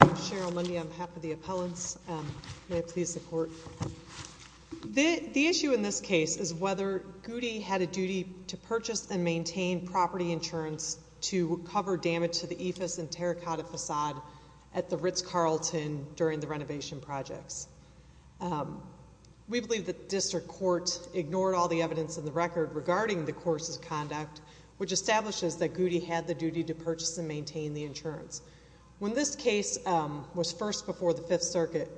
I'm Cheryl Mundy on behalf of the appellants. May I please the court? The issue in this case is whether Goody had a duty to purchase and maintain property insurance to cover damage to the Ephus and Terracotta facade at the Ritz-Carlton during the renovation projects. We believe the district court ignored all the evidence in the record regarding the court's conduct, which establishes that Goody had the duty to purchase and maintain the insurance. When this case was first before the Fifth Circuit,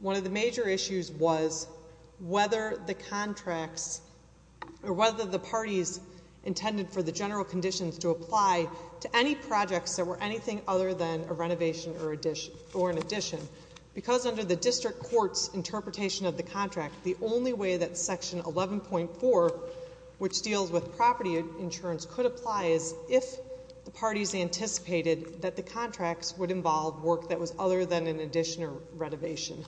one of the major issues was whether the contracts or whether the parties intended for the general conditions to apply to any projects that were anything other than a renovation or an addition, because under the district court's interpretation of the contract, the only way that section 11.4, which deals with property insurance, could apply is if the parties anticipated that the contracts would involve work that was other than an addition or renovation.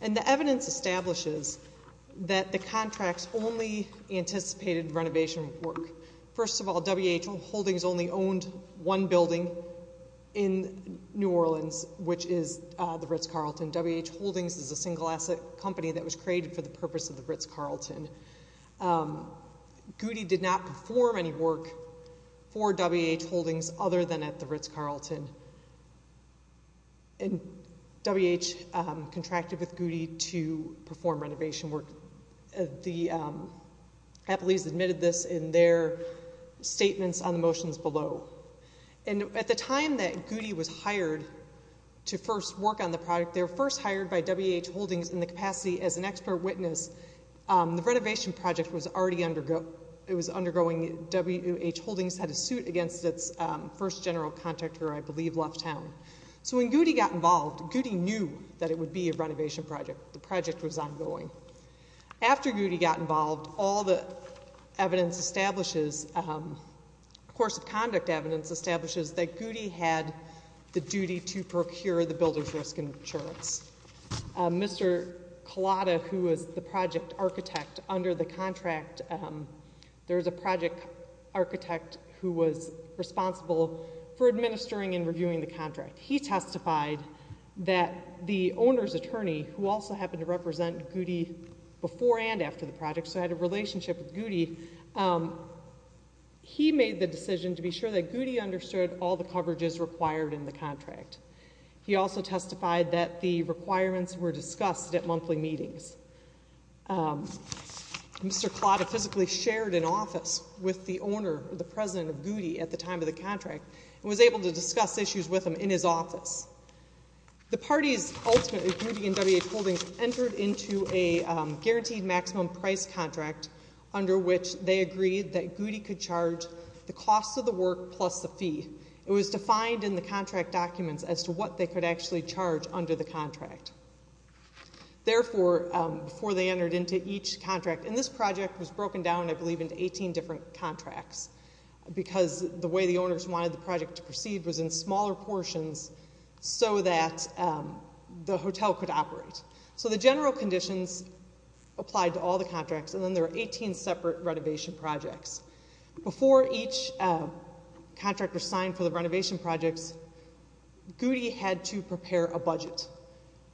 And the evidence establishes that the contracts only anticipated renovation work. First of all, W.H. Holdings only owned one building in New Orleans, which is the Ritz-Carlton. W.H. Holdings is a single-asset company that was created for the purpose of the Ritz-Carlton. Goody did not perform any work for W.H. Holdings other than at the Ritz-Carlton, and W.H. contracted with Goody to perform renovation work. The Applees admitted this in their statements on the motions below. And at the time that Goody was hired to first work on the project, they were first hired by W.H. Holdings in the capacity as an expert witness. The renovation project was already undergoing. W.H. Holdings had a suit against its first general contractor, who I believe left town. So when Goody got involved, Goody knew that it would be a renovation project. The project was ongoing. After Goody got involved, all the evidence establishes, course of conduct evidence establishes, that Goody had the duty to procure the builder's risk insurance. Mr. Collada, who was the project architect under the contract, there was a project architect who was responsible for administering and reviewing the contract. He testified that the owner's attorney, who also happened to represent Goody before and after the project, so had a relationship with Goody, he made the decision to be sure that Goody understood all the coverages required in the contract. He also testified that the requirements were discussed at monthly meetings. Mr. Collada physically shared an office with the owner, the president of Goody, at the time of the contract and was able to discuss issues with him in his office. The parties ultimately, Goody and W.H. Holdings, entered into a guaranteed maximum price contract under which they agreed that Goody could charge the cost of the work plus the fee. It was defined in the contract documents as to what they could actually charge under the contract. Therefore, before they entered into each contract, and this project was broken down, I believe, into 18 different contracts because the way the owners wanted the project to proceed was in smaller portions so that the hotel could operate. So the general conditions applied to all the contracts, and then there were 18 separate renovation projects. Before each contract was signed for the renovation projects, Goody had to prepare a budget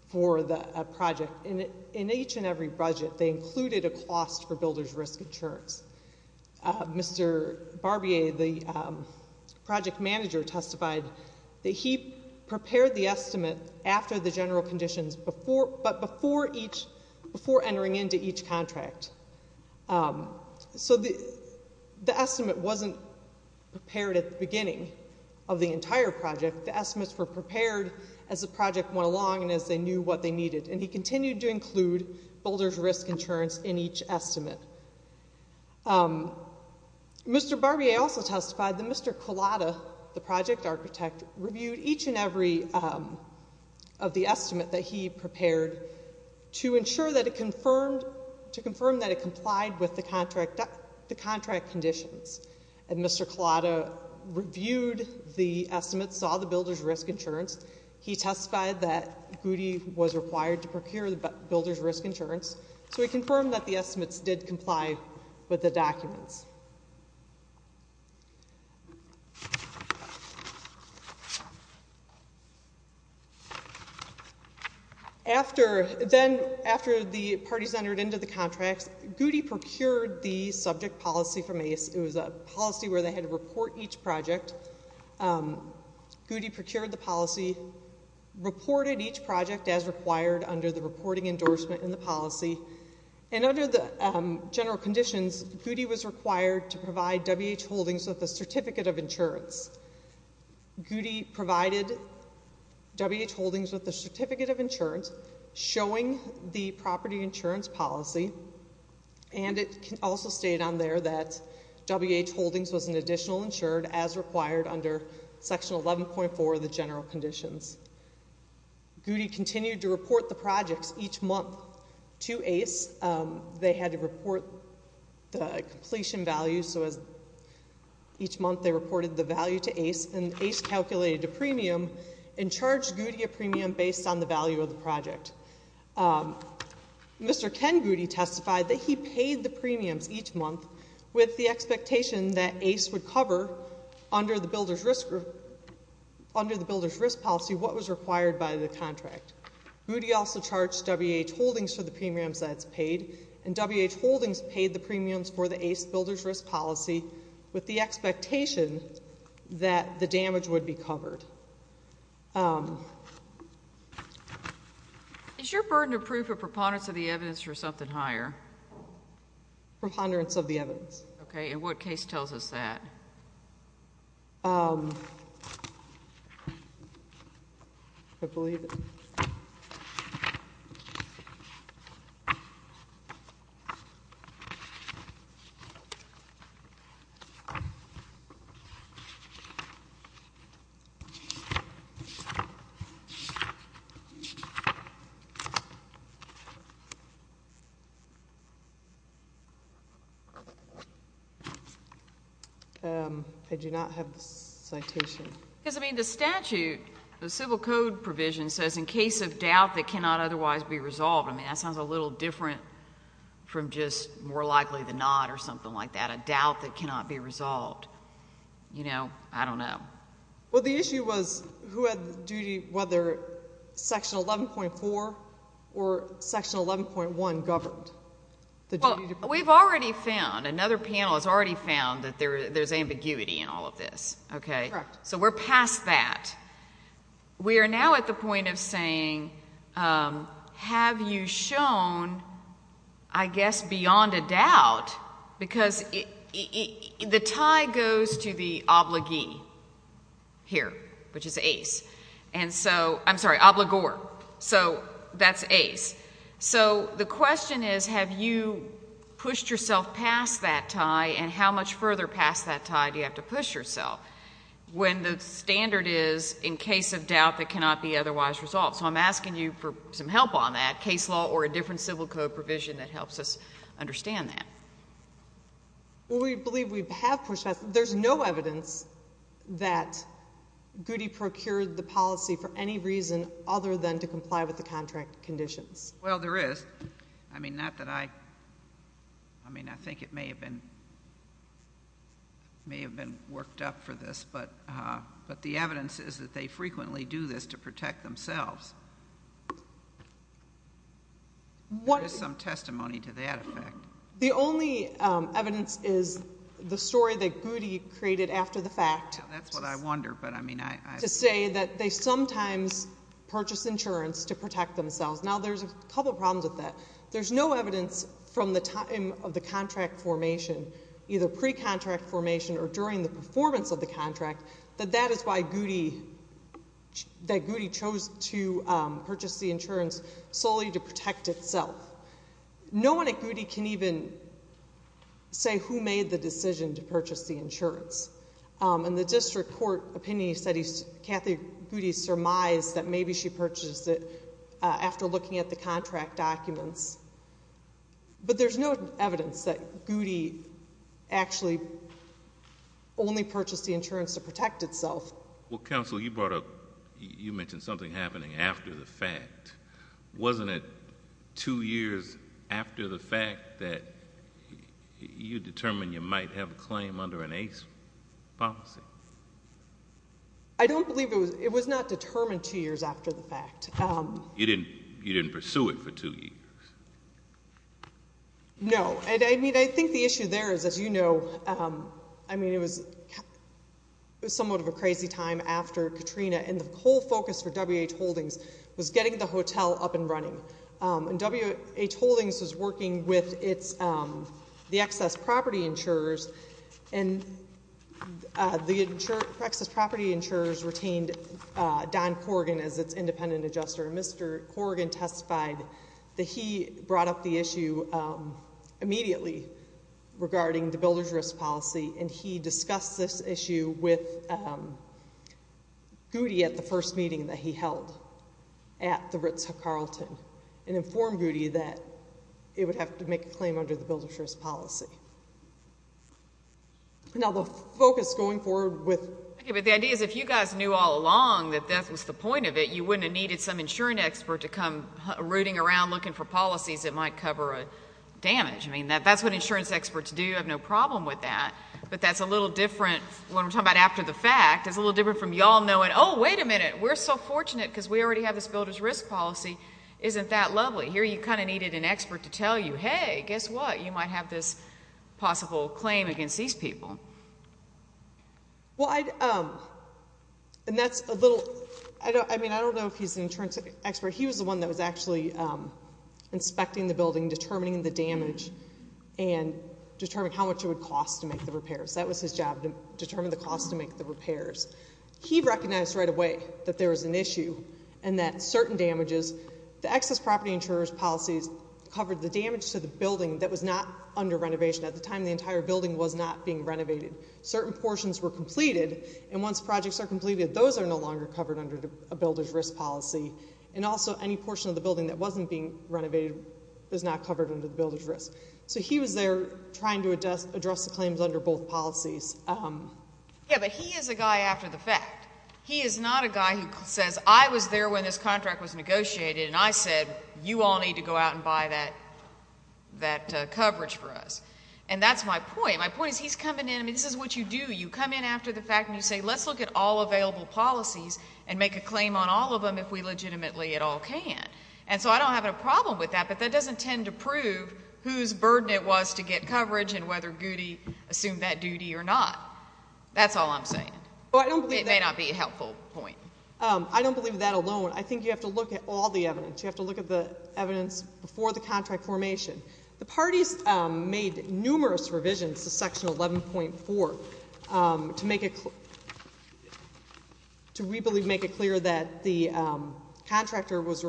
for the project. In each and every budget, they included a cost for builder's risk insurance. Mr. Barbier, the project manager, testified that he prepared the estimate after the general conditions but before entering into each contract. So the estimate wasn't prepared at the beginning of the entire project. The estimates were prepared as the project went along and as they knew what they needed, and he continued to include builder's risk insurance in each estimate. Mr. Barbier also testified that Mr. Collada, the project architect, reviewed each and every of the estimate that he prepared to ensure that it confirmed that it complied with the contract conditions, and Mr. Collada reviewed the estimates, saw the builder's risk insurance. He testified that Goody was required to procure the builder's risk insurance, so he confirmed that the estimates did comply with the documents. Then after the parties entered into the contracts, Goody procured the subject policy from ACE. It was a policy where they had to report each project. Goody procured the policy, reported each project as required under the reporting endorsement in the policy, and under the general conditions, Goody was required to provide WH Holdings with a certificate of insurance. Goody provided WH Holdings with a certificate of insurance showing the property insurance policy, and it also stated on there that WH Holdings was an additional insured as required under Section 11.4 of the general conditions. Goody continued to report the projects each month to ACE. They had to report the completion values, so each month they reported the value to ACE, and ACE calculated the premium and charged Goody a premium based on the value of the project. Mr. Ken Goody testified that he paid the premiums each month with the expectation that ACE would cover, under the builder's risk policy, what was required by the contract. Goody also charged WH Holdings for the premiums that it's paid, and WH Holdings paid the premiums for the ACE builder's risk policy with the expectation that the damage would be covered. Is your burden of proof a preponderance of the evidence or something higher? Preponderance of the evidence. Okay, and what case tells us that? I believe it. Okay. I do not have the citation. Because, I mean, the statute, the civil code provision says, in case of doubt that cannot otherwise be resolved. I mean, that sounds a little different from just more likely than not or something like that, a doubt that cannot be resolved. You know, I don't know. Well, the issue was who had the duty, whether Section 11.4 or Section 11.1 governed. Well, we've already found, another panel has already found that there's ambiguity in all of this. So we're past that. We are now at the point of saying, have you shown, I guess, beyond a doubt, because the tie goes to the obligee here, which is ACE. And so, I'm sorry, obligor. So that's ACE. So the question is, have you pushed yourself past that tie, and how much further past that tie do you have to push yourself, when the standard is, in case of doubt that cannot be otherwise resolved? So I'm asking you for some help on that, case law or a different civil code provision that helps us understand that. Well, we believe we have pushed that. There's no evidence that Goody procured the policy for any reason other than to comply with the contract conditions. Well, there is. I mean, not that I, I mean, I think it may have been worked up for this, but the evidence is that they frequently do this to protect themselves. There is some testimony to that effect. The only evidence is the story that Goody created after the fact. Yeah, that's what I wonder. To say that they sometimes purchase insurance to protect themselves. Now, there's a couple problems with that. There's no evidence from the time of the contract formation, either pre-contract formation or during the performance of the contract, that that is why Goody, that Goody chose to purchase the insurance solely to protect itself. No one at Goody can even say who made the decision to purchase the insurance. In the district court opinion studies, Kathy Goody surmised that maybe she purchased it after looking at the contract documents. But there's no evidence that Goody actually only purchased the insurance to protect itself. Well, counsel, you brought up, you mentioned something happening after the fact. Wasn't it two years after the fact that you determined you might have a claim under an ace policy? I don't believe it was. It was not determined two years after the fact. You didn't pursue it for two years? No. I think the issue there is, as you know, it was somewhat of a crazy time after Katrina, and the whole focus for WH Holdings was getting the hotel up and running. And WH Holdings was working with the excess property insurers, and the excess property insurers retained Don Corrigan as its independent adjuster. And Mr. Corrigan testified that he brought up the issue immediately regarding the builder's risk policy, and he discussed this issue with Goody at the first meeting that he held at the Ritz-Carlton and informed Goody that it would have to make a claim under the builder's risk policy. Now, the focus going forward with the idea is if you guys knew all along that that was the point of it, you wouldn't have needed some insurance expert to come rooting around looking for policies that might cover damage. I mean, that's what insurance experts do. You have no problem with that. But that's a little different when we're talking about after the fact. It's a little different from y'all knowing, oh, wait a minute, we're so fortunate because we already have this builder's risk policy, isn't that lovely? Here you kind of needed an expert to tell you, hey, guess what, you might have this possible claim against these people. Well, and that's a little, I mean, I don't know if he's an insurance expert. He was the one that was actually inspecting the building, determining the damage and determining how much it would cost to make the repairs. That was his job to determine the cost to make the repairs. He recognized right away that there was an issue and that certain damages, the excess property insurer's policies covered the damage to the building that was not under renovation. At the time, the entire building was not being renovated. Certain portions were completed, and once projects are completed, those are no longer covered under a builder's risk policy. And also, any portion of the building that wasn't being renovated is not covered under the builder's risk. So he was there trying to address the claims under both policies. Yeah, but he is a guy after the fact. He is not a guy who says, I was there when this contract was negotiated, and I said you all need to go out and buy that coverage for us. And that's my point. My point is he's coming in, and this is what you do. You come in after the fact and you say let's look at all available policies and make a claim on all of them if we legitimately at all can. And so I don't have a problem with that, but that doesn't tend to prove whose burden it was to get coverage and whether Goody assumed that duty or not. That's all I'm saying. It may not be a helpful point. I don't believe that alone. I think you have to look at all the evidence. You have to look at the evidence before the contract formation. The parties made numerous revisions to Section 11.4 to make it clear that the contractor was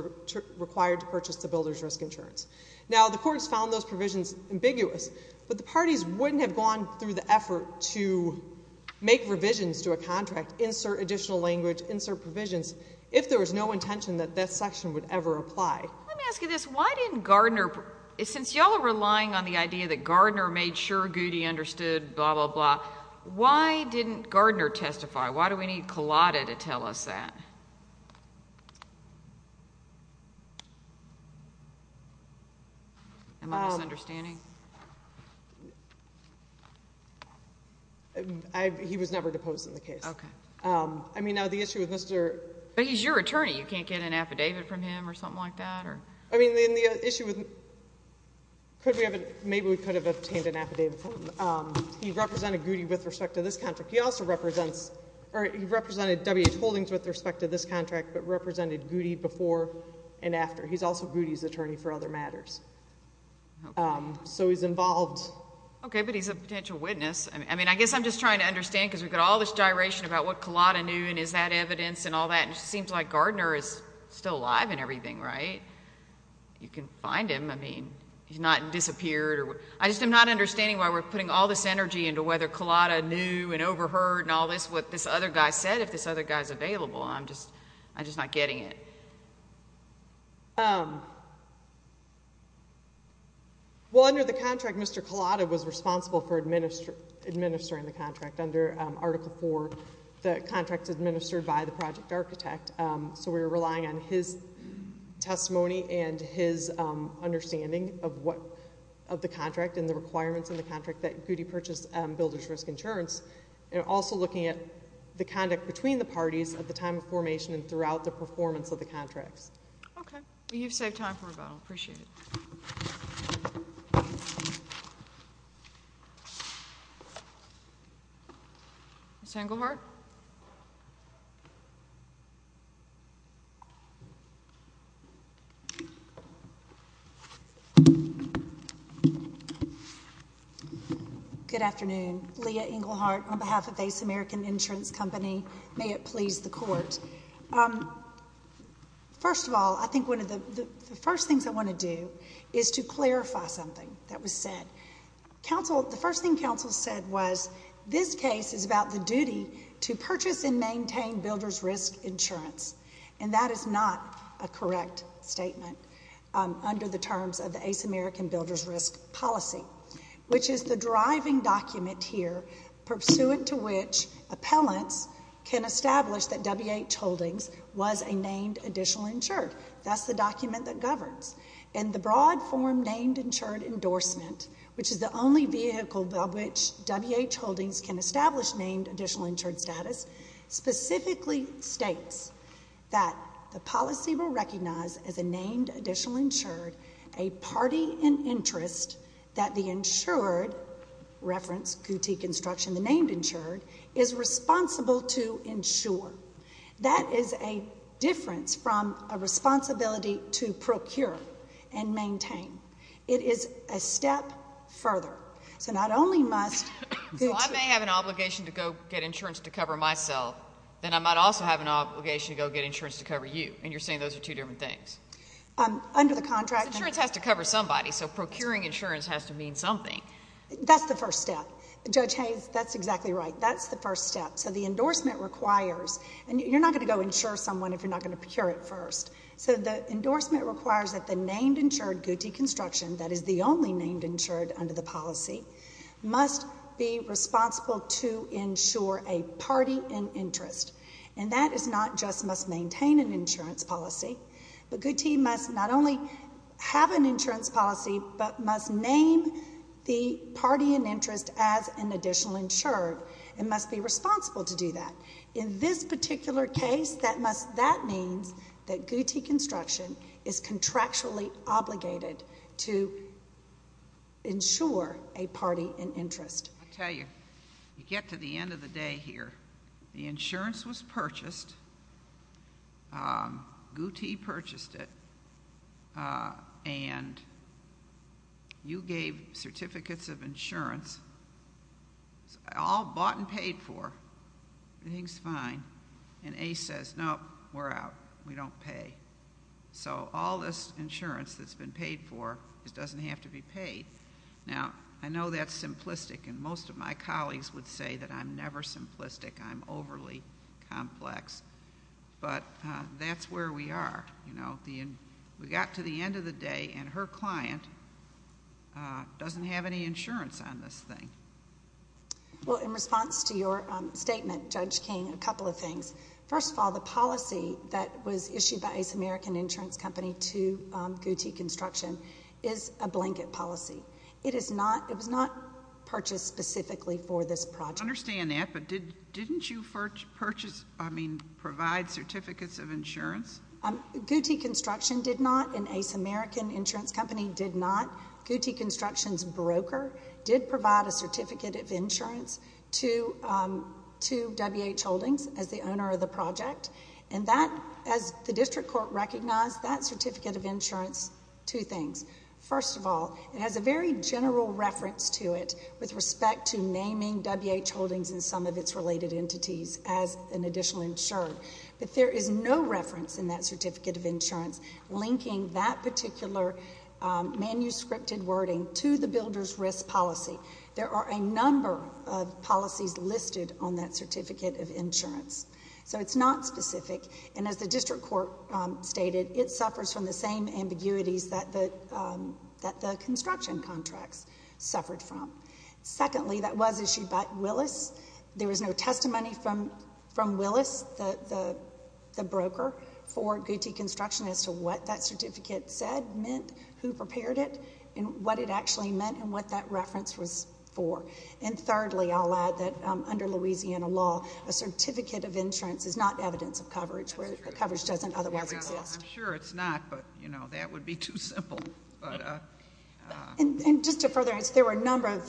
required to purchase the builder's risk insurance. Now, the courts found those provisions ambiguous, but the parties wouldn't have gone through the effort to make revisions to a contract, insert additional language, insert provisions, if there was no intention that that section would ever apply. Let me ask you this. Why didn't Gardner, since you all are relying on the idea that Gardner made sure Goody understood, blah, blah, blah, why didn't Gardner testify? Why do we need Collada to tell us that? Am I misunderstanding? He was never deposed in the case. Okay. I mean, now the issue with Mr. But he's your attorney. You can't get an affidavit from him or something like that? I mean, the issue with maybe we could have obtained an affidavit from him. He represented Goody with respect to this contract. He also represents or he represented WH Holdings with respect to this contract but represented Goody before and after. He's also Goody's attorney for other matters. So he's involved. Okay, but he's a potential witness. I mean, I guess I'm just trying to understand because we've got all this gyration about what Collada knew and is that evidence and all that, and it seems like Gardner is still alive and everything, right? You can find him. I mean, he's not disappeared. I just am not understanding why we're putting all this energy into whether Collada knew and overheard and all this what this other guy said if this other guy is available. I'm just not getting it. Well, under the contract, Mr. Collada was responsible for administering the contract. Under Article IV, the contract is administered by the project architect. So we're relying on his testimony and his understanding of the contract and the requirements in the contract that Goody purchased builder's risk insurance and also looking at the conduct between the parties at the time of formation and throughout the performance of the contracts. Okay. You've saved time for rebuttal. Appreciate it. Ms. Engelhardt? Good afternoon. Leah Engelhardt on behalf of Ace American Insurance Company. May it please the Court. First of all, I think one of the first things I want to do is to clarify something that was said. The first thing counsel said was this case is about the duty to purchase and maintain builder's risk insurance, and that is not a correct statement under the terms of the Ace American Builder's Risk Policy, which is the driving document here pursuant to which appellants can establish that W.H. Holdings was a named additional insured. That's the document that governs. And the broad form named insured endorsement, which is the only vehicle by which W.H. Holdings can establish named additional insured status, specifically states that the policy will recognize as a named additional insured a party in interest that the insured, reference Gootee Construction, the named insured, is responsible to insure. That is a difference from a responsibility to procure and maintain. It is a step further. So not only must Gootee Construction. So I may have an obligation to go get insurance to cover myself, then I might also have an obligation to go get insurance to cover you, and you're saying those are two different things. Because insurance has to cover somebody, so procuring insurance has to mean something. That's the first step. Judge Hayes, that's exactly right. That's the first step. So the endorsement requires, and you're not going to go insure someone if you're not going to procure it first. So the endorsement requires that the named insured Gootee Construction, that is the only named insured under the policy, must be responsible to insure a party in interest. And that is not just must maintain an insurance policy, but Gootee must not only have an insurance policy, but must name the party in interest as an additional insured and must be responsible to do that. In this particular case, that means that Gootee Construction is contractually obligated to insure a party in interest. I'll tell you, you get to the end of the day here. The insurance was purchased. Gootee purchased it. And you gave certificates of insurance, all bought and paid for. Everything's fine. And Ace says, nope, we're out. We don't pay. So all this insurance that's been paid for, it doesn't have to be paid. Now, I know that's simplistic, and most of my colleagues would say that I'm never simplistic. I'm overly complex. But that's where we are. We got to the end of the day, and her client doesn't have any insurance on this thing. Well, in response to your statement, Judge King, a couple of things. First of all, the policy that was issued by Ace American Insurance Company to Gootee Construction is a blanket policy. It was not purchased specifically for this project. I understand that, but didn't you purchase, I mean, provide certificates of insurance? Gootee Construction did not, and Ace American Insurance Company did not. Gootee Construction's broker did provide a certificate of insurance to WH Holdings as the owner of the project. And that, as the district court recognized, that certificate of insurance, two things. First of all, it has a very general reference to it with respect to naming WH Holdings and some of its related entities as an additional insurer. But there is no reference in that certificate of insurance linking that particular manuscripted wording to the builder's risk policy. There are a number of policies listed on that certificate of insurance. So it's not specific, and as the district court stated, it suffers from the same ambiguities that the construction contracts suffered from. Secondly, that was issued by Willis. There was no testimony from Willis, the broker, for Gootee Construction as to what that certificate said meant, who prepared it, and what it actually meant and what that reference was for. And thirdly, I'll add that under Louisiana law, a certificate of insurance is not evidence of coverage where the coverage doesn't otherwise exist. I'm sure it's not, but, you know, that would be too simple. And just to further answer, there were a number of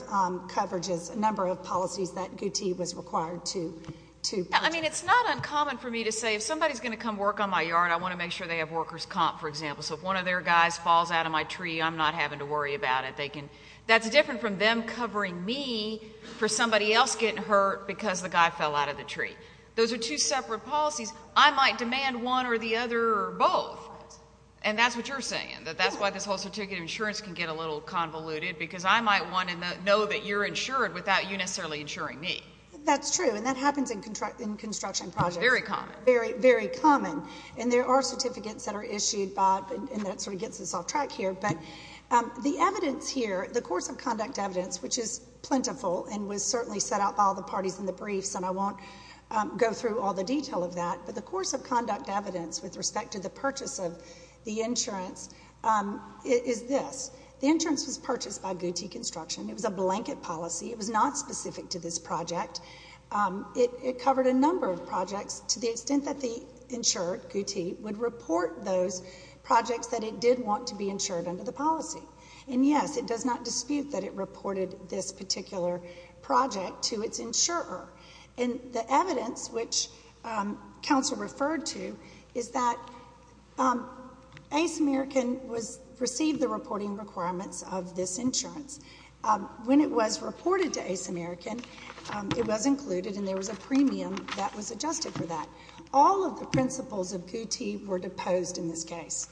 coverages, a number of policies that Gootee was required to put. I mean, it's not uncommon for me to say if somebody's going to come work on my yard, I want to make sure they have worker's comp, for example. So if one of their guys falls out of my tree, I'm not having to worry about it. That's different from them covering me for somebody else getting hurt because the guy fell out of the tree. Those are two separate policies. I might demand one or the other or both, and that's what you're saying, that that's why this whole certificate of insurance can get a little convoluted because I might want to know that you're insured without you necessarily insuring me. That's true, and that happens in construction projects. Very common. Very, very common. And there are certificates that are issued by it, and that sort of gets us off track here. But the evidence here, the course of conduct evidence, which is plentiful and was certainly set out by all the parties in the briefs, and I won't go through all the detail of that, but the course of conduct evidence with respect to the purchase of the insurance is this. The insurance was purchased by Gootee Construction. It was a blanket policy. It was not specific to this project. It covered a number of projects to the extent that the insurer, Gootee, would report those projects that it did want to be insured under the policy. And, yes, it does not dispute that it reported this particular project to its insurer. And the evidence, which counsel referred to, is that Ace American received the reporting requirements of this insurance. When it was reported to Ace American, it was included, and there was a premium that was adjusted for that. All of the principles of Gootee were deposed in this case.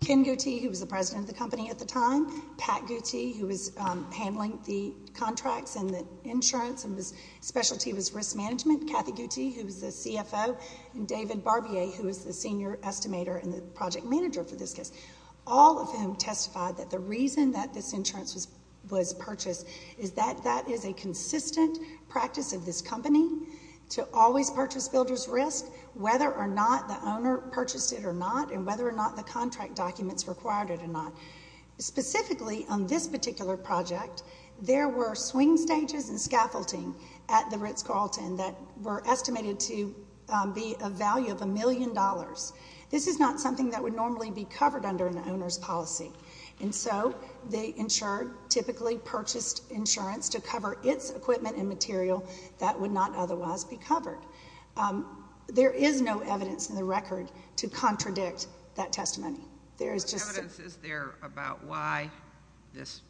Ken Gootee, who was the president of the company at the time, Pat Gootee, who was handling the contracts and the insurance, and his specialty was risk management, Kathy Gootee, who was the CFO, and David Barbier, who was the senior estimator and the project manager for this case, all of whom testified that the reason that this insurance was purchased is that that is a consistent practice of this company to always purchase builder's risk, whether or not the owner purchased it or not, and whether or not the contract documents required it or not. Specifically, on this particular project, there were swing stages and scaffolding at the Ritz-Carlton that were estimated to be a value of a million dollars. This is not something that would normally be covered under an owner's policy. And so the insurer typically purchased insurance to cover its equipment and material that would not otherwise be covered. There is no evidence in the record to contradict that testimony. What evidence is there about why this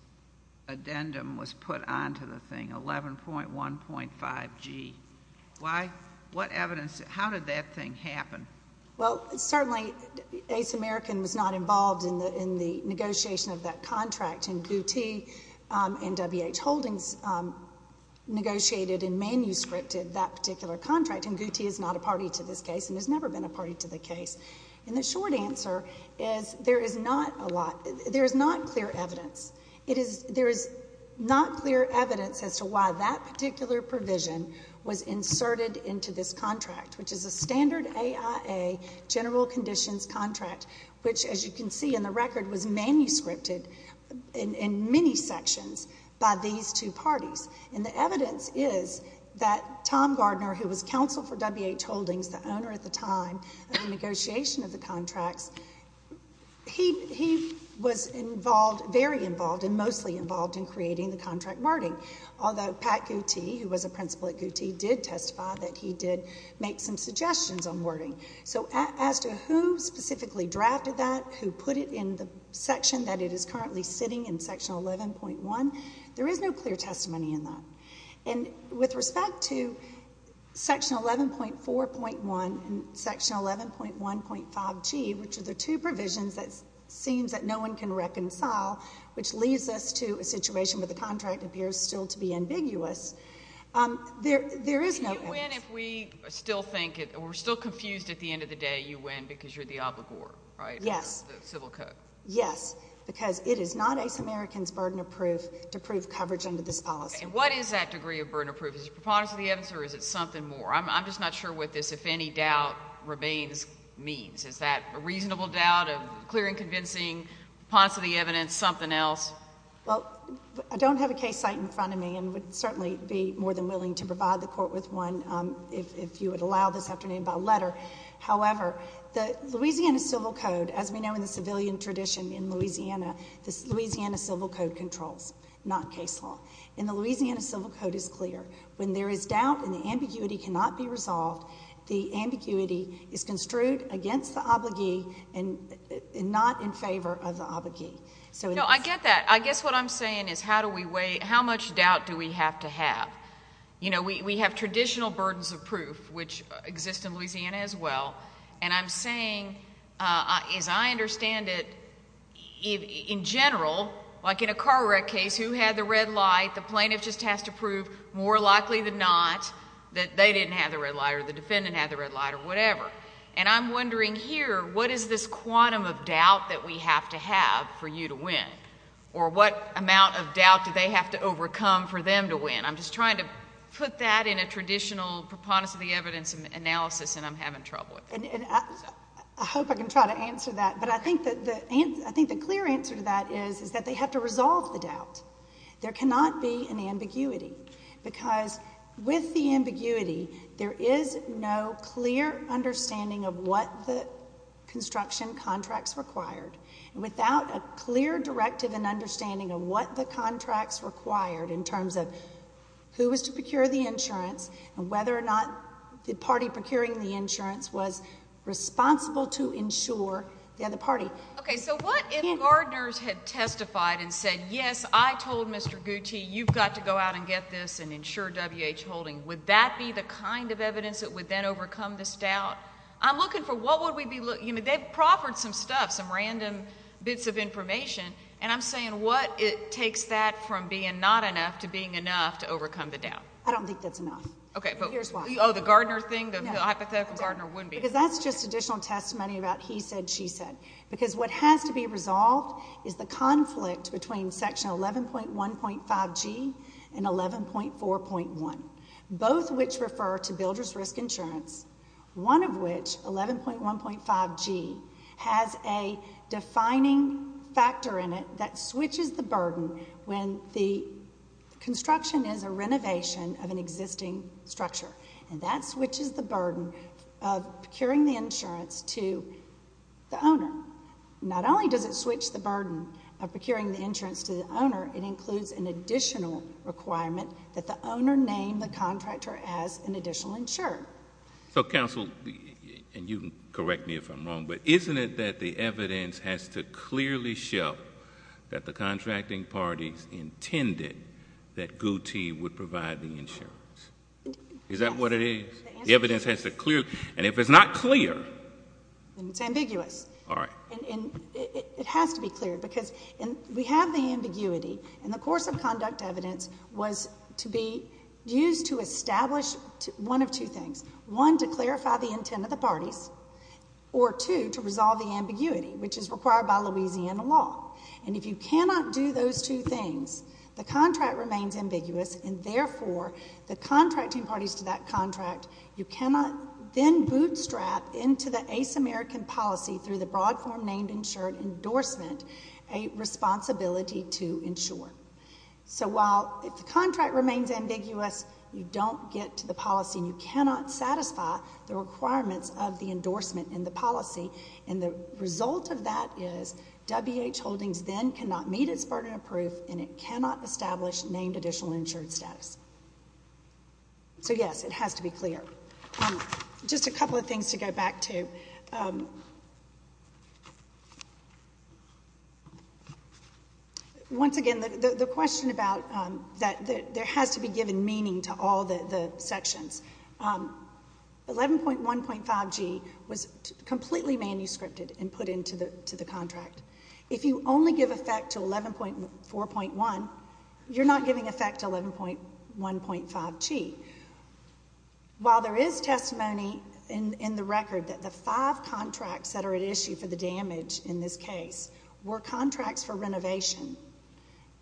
addendum was put onto the thing, 11.1.5G? What evidence? How did that thing happen? Well, certainly Ace American was not involved in the negotiation of that contract, and Gootee and W.H. Holdings negotiated and manuscripted that particular contract. And Gootee is not a party to this case and has never been a party to the case. And the short answer is there is not clear evidence. There is not clear evidence as to why that particular provision was inserted into this contract, which is a standard AIA general conditions contract, which, as you can see in the record, was manuscripted in many sections by these two parties. And the evidence is that Tom Gardner, who was counsel for W.H. Holdings, the owner at the time of the negotiation of the contracts, he was very involved and mostly involved in creating the contract wording, although Pat Gootee, who was a principal at Gootee, did testify that he did make some suggestions on wording. So as to who specifically drafted that, who put it in the section that it is currently sitting in, section 11.1, there is no clear testimony in that. And with respect to section 11.4.1 and section 11.1.5G, which are the two provisions that it seems that no one can reconcile, which leads us to a situation where the contract appears still to be ambiguous, there is no evidence. Do you win if we still think it or we're still confused at the end of the day you win because you're the obligor, right? Yes. The civil code. Yes, because it is not ace Americans burden of proof to prove coverage under this policy. What is that degree of burden of proof? Is it preponderance of the evidence or is it something more? I'm just not sure what this if any doubt remains means. Is that a reasonable doubt of clear and convincing, preponderance of the evidence, something else? Well, I don't have a case site in front of me and would certainly be more than willing to provide the court with one if you would allow this afternoon by letter. However, the Louisiana Civil Code, as we know in the civilian tradition in Louisiana, the Louisiana Civil Code controls, not case law. And the Louisiana Civil Code is clear. When there is doubt and the ambiguity cannot be resolved, the ambiguity is construed against the obligee and not in favor of the obligee. No, I get that. But I guess what I'm saying is how do we weigh, how much doubt do we have to have? You know, we have traditional burdens of proof, which exist in Louisiana as well. And I'm saying, as I understand it, in general, like in a car wreck case, who had the red light? The plaintiff just has to prove more likely than not that they didn't have the red light or the defendant had the red light or whatever. And I'm wondering here, what is this quantum of doubt that we have to have for you to win? Or what amount of doubt do they have to overcome for them to win? I'm just trying to put that in a traditional preponderance of the evidence analysis, and I'm having trouble with it. I hope I can try to answer that. But I think the clear answer to that is that they have to resolve the doubt. There cannot be an ambiguity. Because with the ambiguity, there is no clear understanding of what the construction contracts required. Without a clear directive and understanding of what the contracts required in terms of who was to procure the insurance and whether or not the party procuring the insurance was responsible to insure the other party. Okay, so what if gardeners had testified and said, yes, I told Mr. Gutti you've got to go out and get this and insure WH Holding. Would that be the kind of evidence that would then overcome this doubt? I'm looking for what would we be looking for. They've proffered some stuff, some random bits of information, and I'm saying what it takes that from being not enough to being enough to overcome the doubt. I don't think that's enough. Okay. Here's why. Oh, the gardener thing, the hypothetical gardener wouldn't be enough. Because that's just additional testimony about he said, she said. Because what has to be resolved is the conflict between Section 11.1.5G and 11.4.1, both of which refer to builder's risk insurance, one of which, 11.1.5G, has a defining factor in it that switches the burden when the construction is a renovation of an existing structure. And that switches the burden of procuring the insurance to the owner. Not only does it switch the burden of procuring the insurance to the owner, it includes an additional requirement that the owner name the contractor as an additional insurer. So, counsel, and you can correct me if I'm wrong, but isn't it that the evidence has to clearly show that the contracting parties intended that Gutti would provide the insurance? Is that what it is? The evidence has to clear. And if it's not clear. Then it's ambiguous. All right. And it has to be clear. Because we have the ambiguity. And the course of conduct evidence was to be used to establish one of two things. One, to clarify the intent of the parties. Or two, to resolve the ambiguity, which is required by Louisiana law. And if you cannot do those two things, the contract remains ambiguous, and therefore the contracting parties to that contract, you cannot then bootstrap into the ace American policy through the broad form named insured endorsement a responsibility to insure. So while the contract remains ambiguous, you don't get to the policy, and you cannot satisfy the requirements of the endorsement in the policy. And the result of that is WH Holdings then cannot meet its burden of proof, and it cannot establish named additional insured status. So, yes, it has to be clear. Just a couple of things to go back to. Once again, the question about that there has to be given meaning to all the sections. 11.1.5G was completely manuscripted and put into the contract. If you only give effect to 11.4.1, you're not giving effect to 11.1.5G. While there is testimony in the record that the five contracts that are at issue for the damage in this case were contracts for renovation,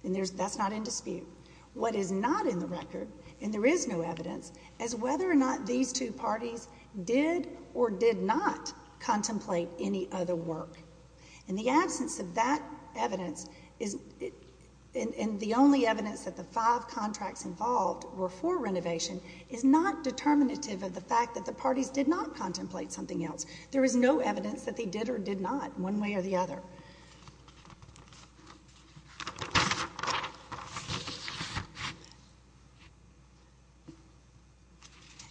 and that's not in dispute, what is not in the record, and there is no evidence, is whether or not these two parties did or did not contemplate any other work. And the absence of that evidence, and the only evidence that the five contracts involved were for renovation, is not determinative of the fact that the parties did not contemplate something else. There is no evidence that they did or did not, one way or the other.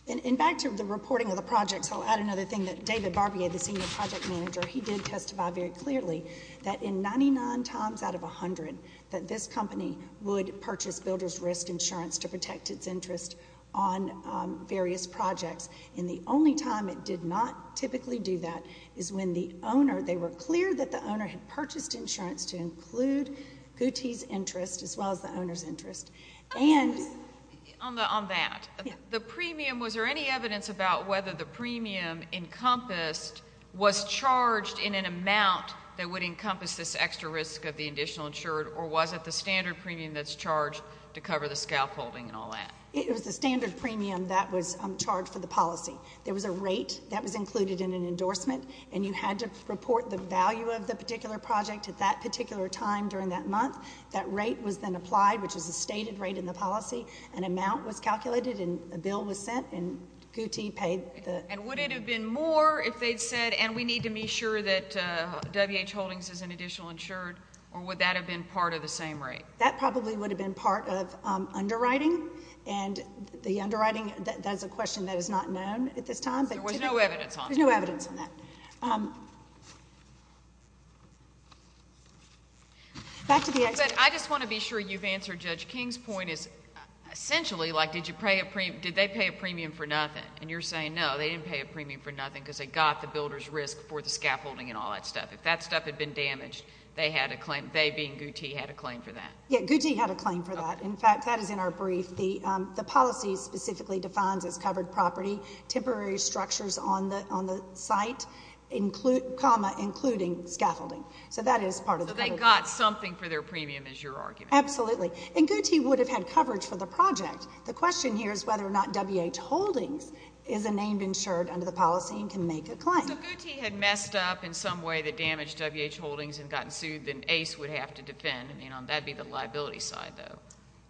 And back to the reporting of the project, so I'll add another thing that David Barbier, the senior project manager, he did testify very clearly that in 99 times out of 100, that this company would purchase builder's risk insurance to protect its interest on various projects. And the only time it did not typically do that is when the owner, they were clear that the owner had purchased insurance to include Gootee's interest as well as the owner's interest. On that, the premium, was there any evidence about whether the premium encompassed, was charged in an amount that would encompass this extra risk of the additional insured, or was it the standard premium that's charged to cover the scalp holding and all that? It was the standard premium that was charged for the policy. There was a rate that was included in an endorsement, and you had to report the value of the particular project at that particular time during that month. That rate was then applied, which is a stated rate in the policy. An amount was calculated, and a bill was sent, and Gootee paid. And would it have been more if they'd said, and we need to be sure that WH Holdings is an additional insured, or would that have been part of the same rate? That probably would have been part of underwriting, and the underwriting, that is a question that is not known at this time. There was no evidence on it. There's no evidence on that. Thank you. Back to the experts. I just want to be sure you've answered Judge King's point. Essentially, like, did they pay a premium for nothing? And you're saying, no, they didn't pay a premium for nothing because they got the builder's risk for the scalp holding and all that stuff. If that stuff had been damaged, they had a claim, they being Gootee, had a claim for that. Yeah, Gootee had a claim for that. In fact, that is in our brief. The policy specifically defines as covered property, temporary structures on the site, comma, including scaffolding. So that is part of the claim. So they got something for their premium is your argument. Absolutely. And Gootee would have had coverage for the project. The question here is whether or not WH Holdings is a named insured under the policy and can make a claim. So Gootee had messed up in some way that damaged WH Holdings and gotten sued, then ACE would have to defend. I mean, that would be the liability side, though.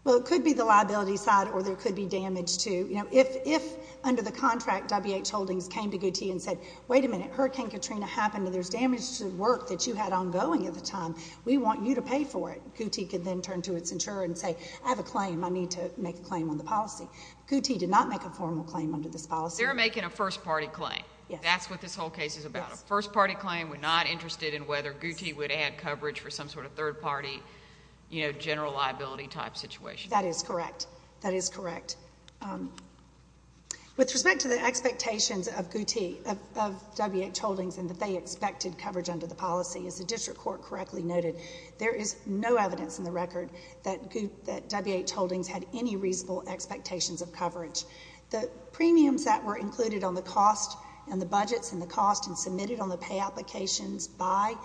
Well, it could be the liability side or there could be damage, too. You know, if under the contract, WH Holdings came to Gootee and said, wait a minute, Hurricane Katrina happened and there's damage to work that you had ongoing at the time, we want you to pay for it, Gootee could then turn to its insurer and say, I have a claim, I need to make a claim on the policy. Gootee did not make a formal claim under this policy. They're making a first-party claim. Yes. That's what this whole case is about. Yes. A first-party claim, we're not interested in whether Gootee would add coverage for some sort of third-party, you know, general liability type situation. That is correct. That is correct. With respect to the expectations of Gootee, of WH Holdings, and that they expected coverage under the policy, as the district court correctly noted, there is no evidence in the record that WH Holdings had any reasonable expectations of coverage. The premiums that were included on the cost and the budgets and the cost and submitted on the pay applications by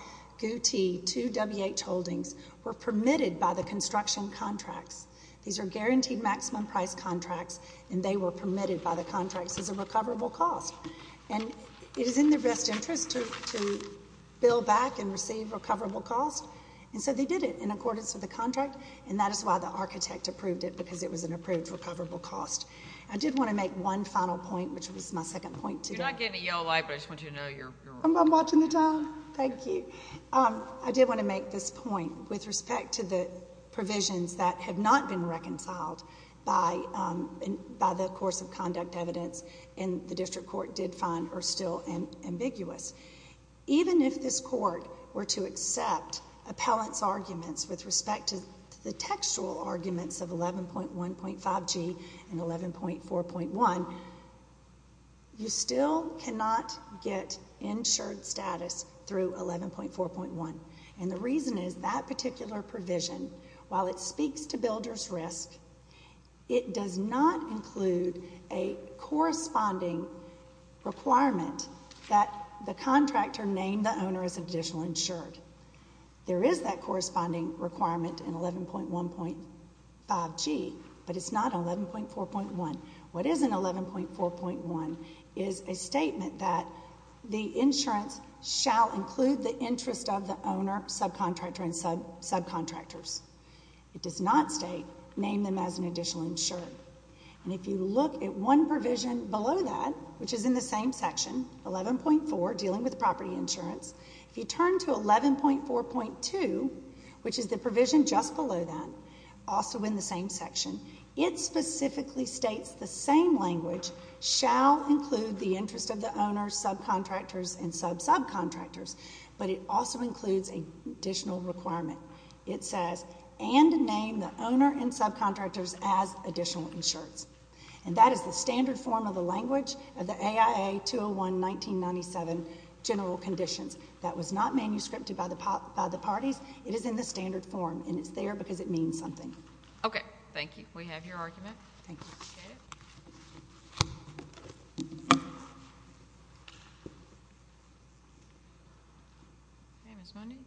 Gootee to WH Holdings were permitted by the construction contracts. These are guaranteed maximum price contracts, and they were permitted by the contracts as a recoverable cost. And it is in their best interest to bill back and receive recoverable costs, and so they did it in accordance with the contract, and that is why the architect approved it, because it was an approved recoverable cost. I did want to make one final point, which was my second point today. I'm not getting a yellow light, but I just want you to know you're on. I'm watching the time. Thank you. I did want to make this point with respect to the provisions that have not been reconciled by the course of conduct evidence, and the district court did find are still ambiguous. Even if this court were to accept appellant's arguments with respect to the textual arguments of 11.1.5G and 11.4.1, you still cannot get insured status through 11.4.1, and the reason is that particular provision, while it speaks to builder's risk, it does not include a corresponding requirement that the contractor name the owner as additional insured. There is that corresponding requirement in 11.1.5G, but it's not 11.4.1. What is in 11.4.1 is a statement that the insurance shall include the interest of the owner, subcontractor, and subcontractors. It does not state name them as an additional insured, and if you look at one provision below that, which is in the same section, 11.4, dealing with property insurance, if you turn to 11.4.2, which is the provision just below that, also in the same section, it specifically states the same language, shall include the interest of the owner, subcontractors, and sub-subcontractors, but it also includes an additional requirement. It says, and name the owner and subcontractors as additional insured, and that is the standard form of the language of the AIA 201-1997 general conditions. That was not manuscripted by the parties. It is in the standard form, and it's there because it means something. Okay. Thank you. We have your argument. Thank you. Ms. Mundy.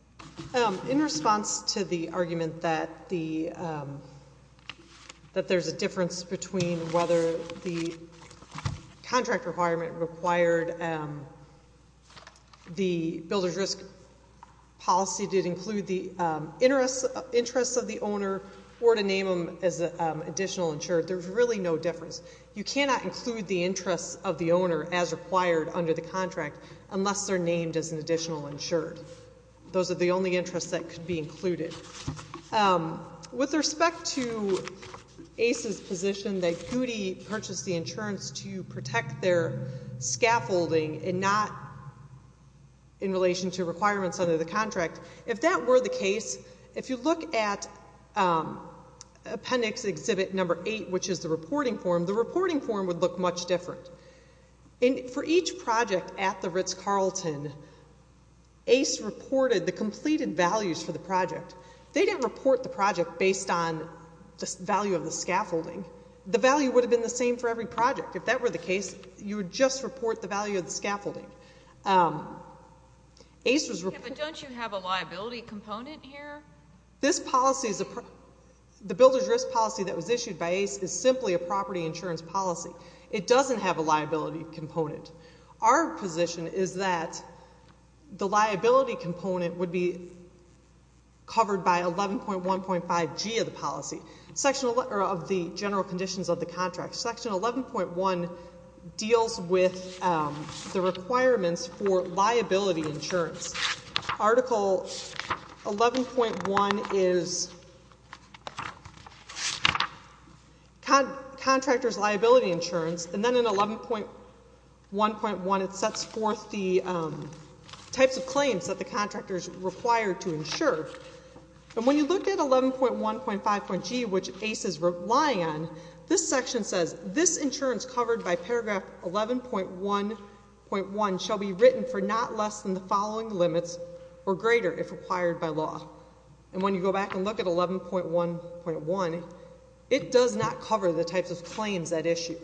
In response to the argument that there's a difference between whether the contract or to name them as additional insured, there's really no difference. You cannot include the interest of the owner as required under the contract unless they're named as an additional insured. Those are the only interests that could be included. With respect to ACE's position that Goody purchased the insurance to protect their scaffolding and not in relation to requirements under the contract, if that were the case, if you look at appendix exhibit number eight, which is the reporting form, the reporting form would look much different. For each project at the Ritz-Carlton, ACE reported the completed values for the project. They didn't report the project based on the value of the scaffolding. The value would have been the same for every project. If that were the case, you would just report the value of the scaffolding. Don't you have a liability component here? This policy, the builder's risk policy that was issued by ACE, is simply a property insurance policy. It doesn't have a liability component. Our position is that the liability component would be covered by 11.1.5G of the policy, of the general conditions of the contract. Section 11.1 deals with the requirements for liability insurance. Article 11.1 is contractor's liability insurance, and then in 11.1.1 it sets forth the types of claims that the contractor is required to insure. When you look at 11.1.5.G, which ACE is relying on, this section says this insurance covered by paragraph 11.1.1 shall be written for not less than the following limits or greater if required by law. When you go back and look at 11.1.1, it does not cover the types of claims that issue.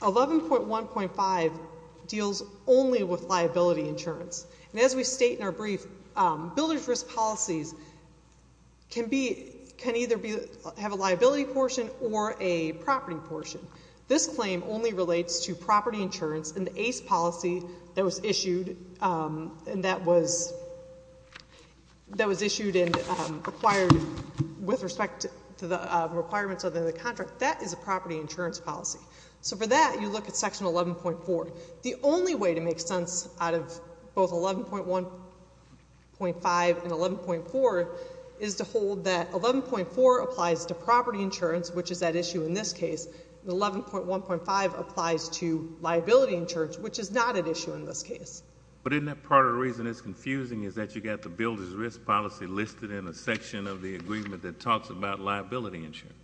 11.1.5 deals only with liability insurance. As we state in our brief, builder's risk policies can either have a liability portion or a property portion. This claim only relates to property insurance, and the ACE policy that was issued and required with respect to the requirements of the contract, that is a property insurance policy. For that, you look at section 11.4. The only way to make sense out of both 11.1.5 and 11.4 is to hold that 11.4 applies to property insurance, which is at issue in this case, and 11.1.5 applies to liability insurance, which is not at issue in this case. But isn't that part of the reason it's confusing is that you've got the builder's risk policy listed in a section of the agreement that talks about liability insurance?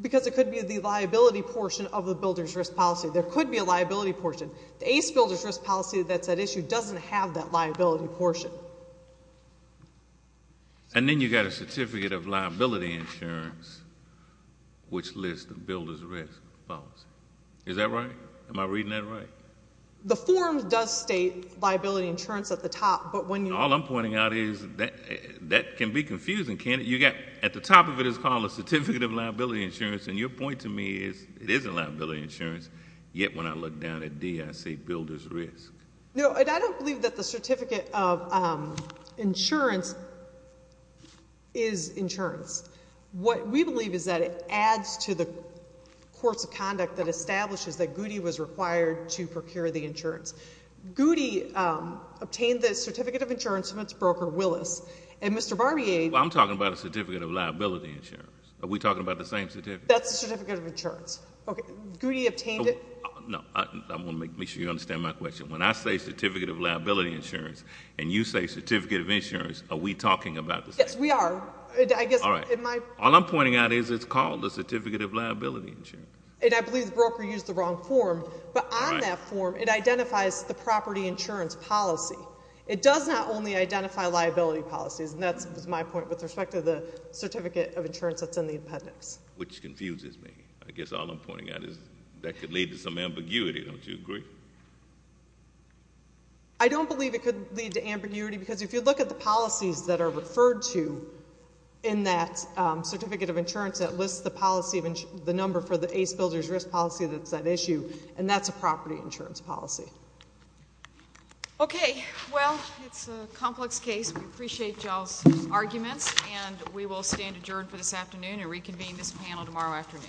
Because it could be the liability portion of the builder's risk policy. There could be a liability portion. The ACE builder's risk policy that's at issue doesn't have that liability portion. And then you've got a certificate of liability insurance, which lists the builder's risk policy. Is that right? Am I reading that right? The form does state liability insurance at the top, but when you look at it, All I'm pointing out is that can be confusing. At the top of it is called a certificate of liability insurance, and your point to me is it isn't liability insurance, yet when I look down at D, I see builder's risk. No, and I don't believe that the certificate of insurance is insurance. What we believe is that it adds to the course of conduct that establishes that Goody was required to procure the insurance. Goody obtained the certificate of insurance from its broker, Willis, and Mr. Barbier Well, I'm talking about a certificate of liability insurance. Are we talking about the same certificate? That's the certificate of insurance. Goody obtained it. No, I want to make sure you understand my question. When I say certificate of liability insurance and you say certificate of insurance, are we talking about the same thing? Yes, we are. All I'm pointing out is it's called a certificate of liability insurance. And I believe the broker used the wrong form, but on that form it identifies the property insurance policy. It does not only identify liability policies, and that's my point with respect to the certificate of insurance that's in the appendix. Which confuses me. I guess all I'm pointing out is that could lead to some ambiguity. Don't you agree? I don't believe it could lead to ambiguity because if you look at the policies that are referred to in that certificate of insurance that lists the number for the ACE builder's risk policy that's at issue, and that's a property insurance policy. Okay. Well, it's a complex case. We appreciate y'all's arguments, and we will stand adjourned for this afternoon and reconvene this panel tomorrow afternoon.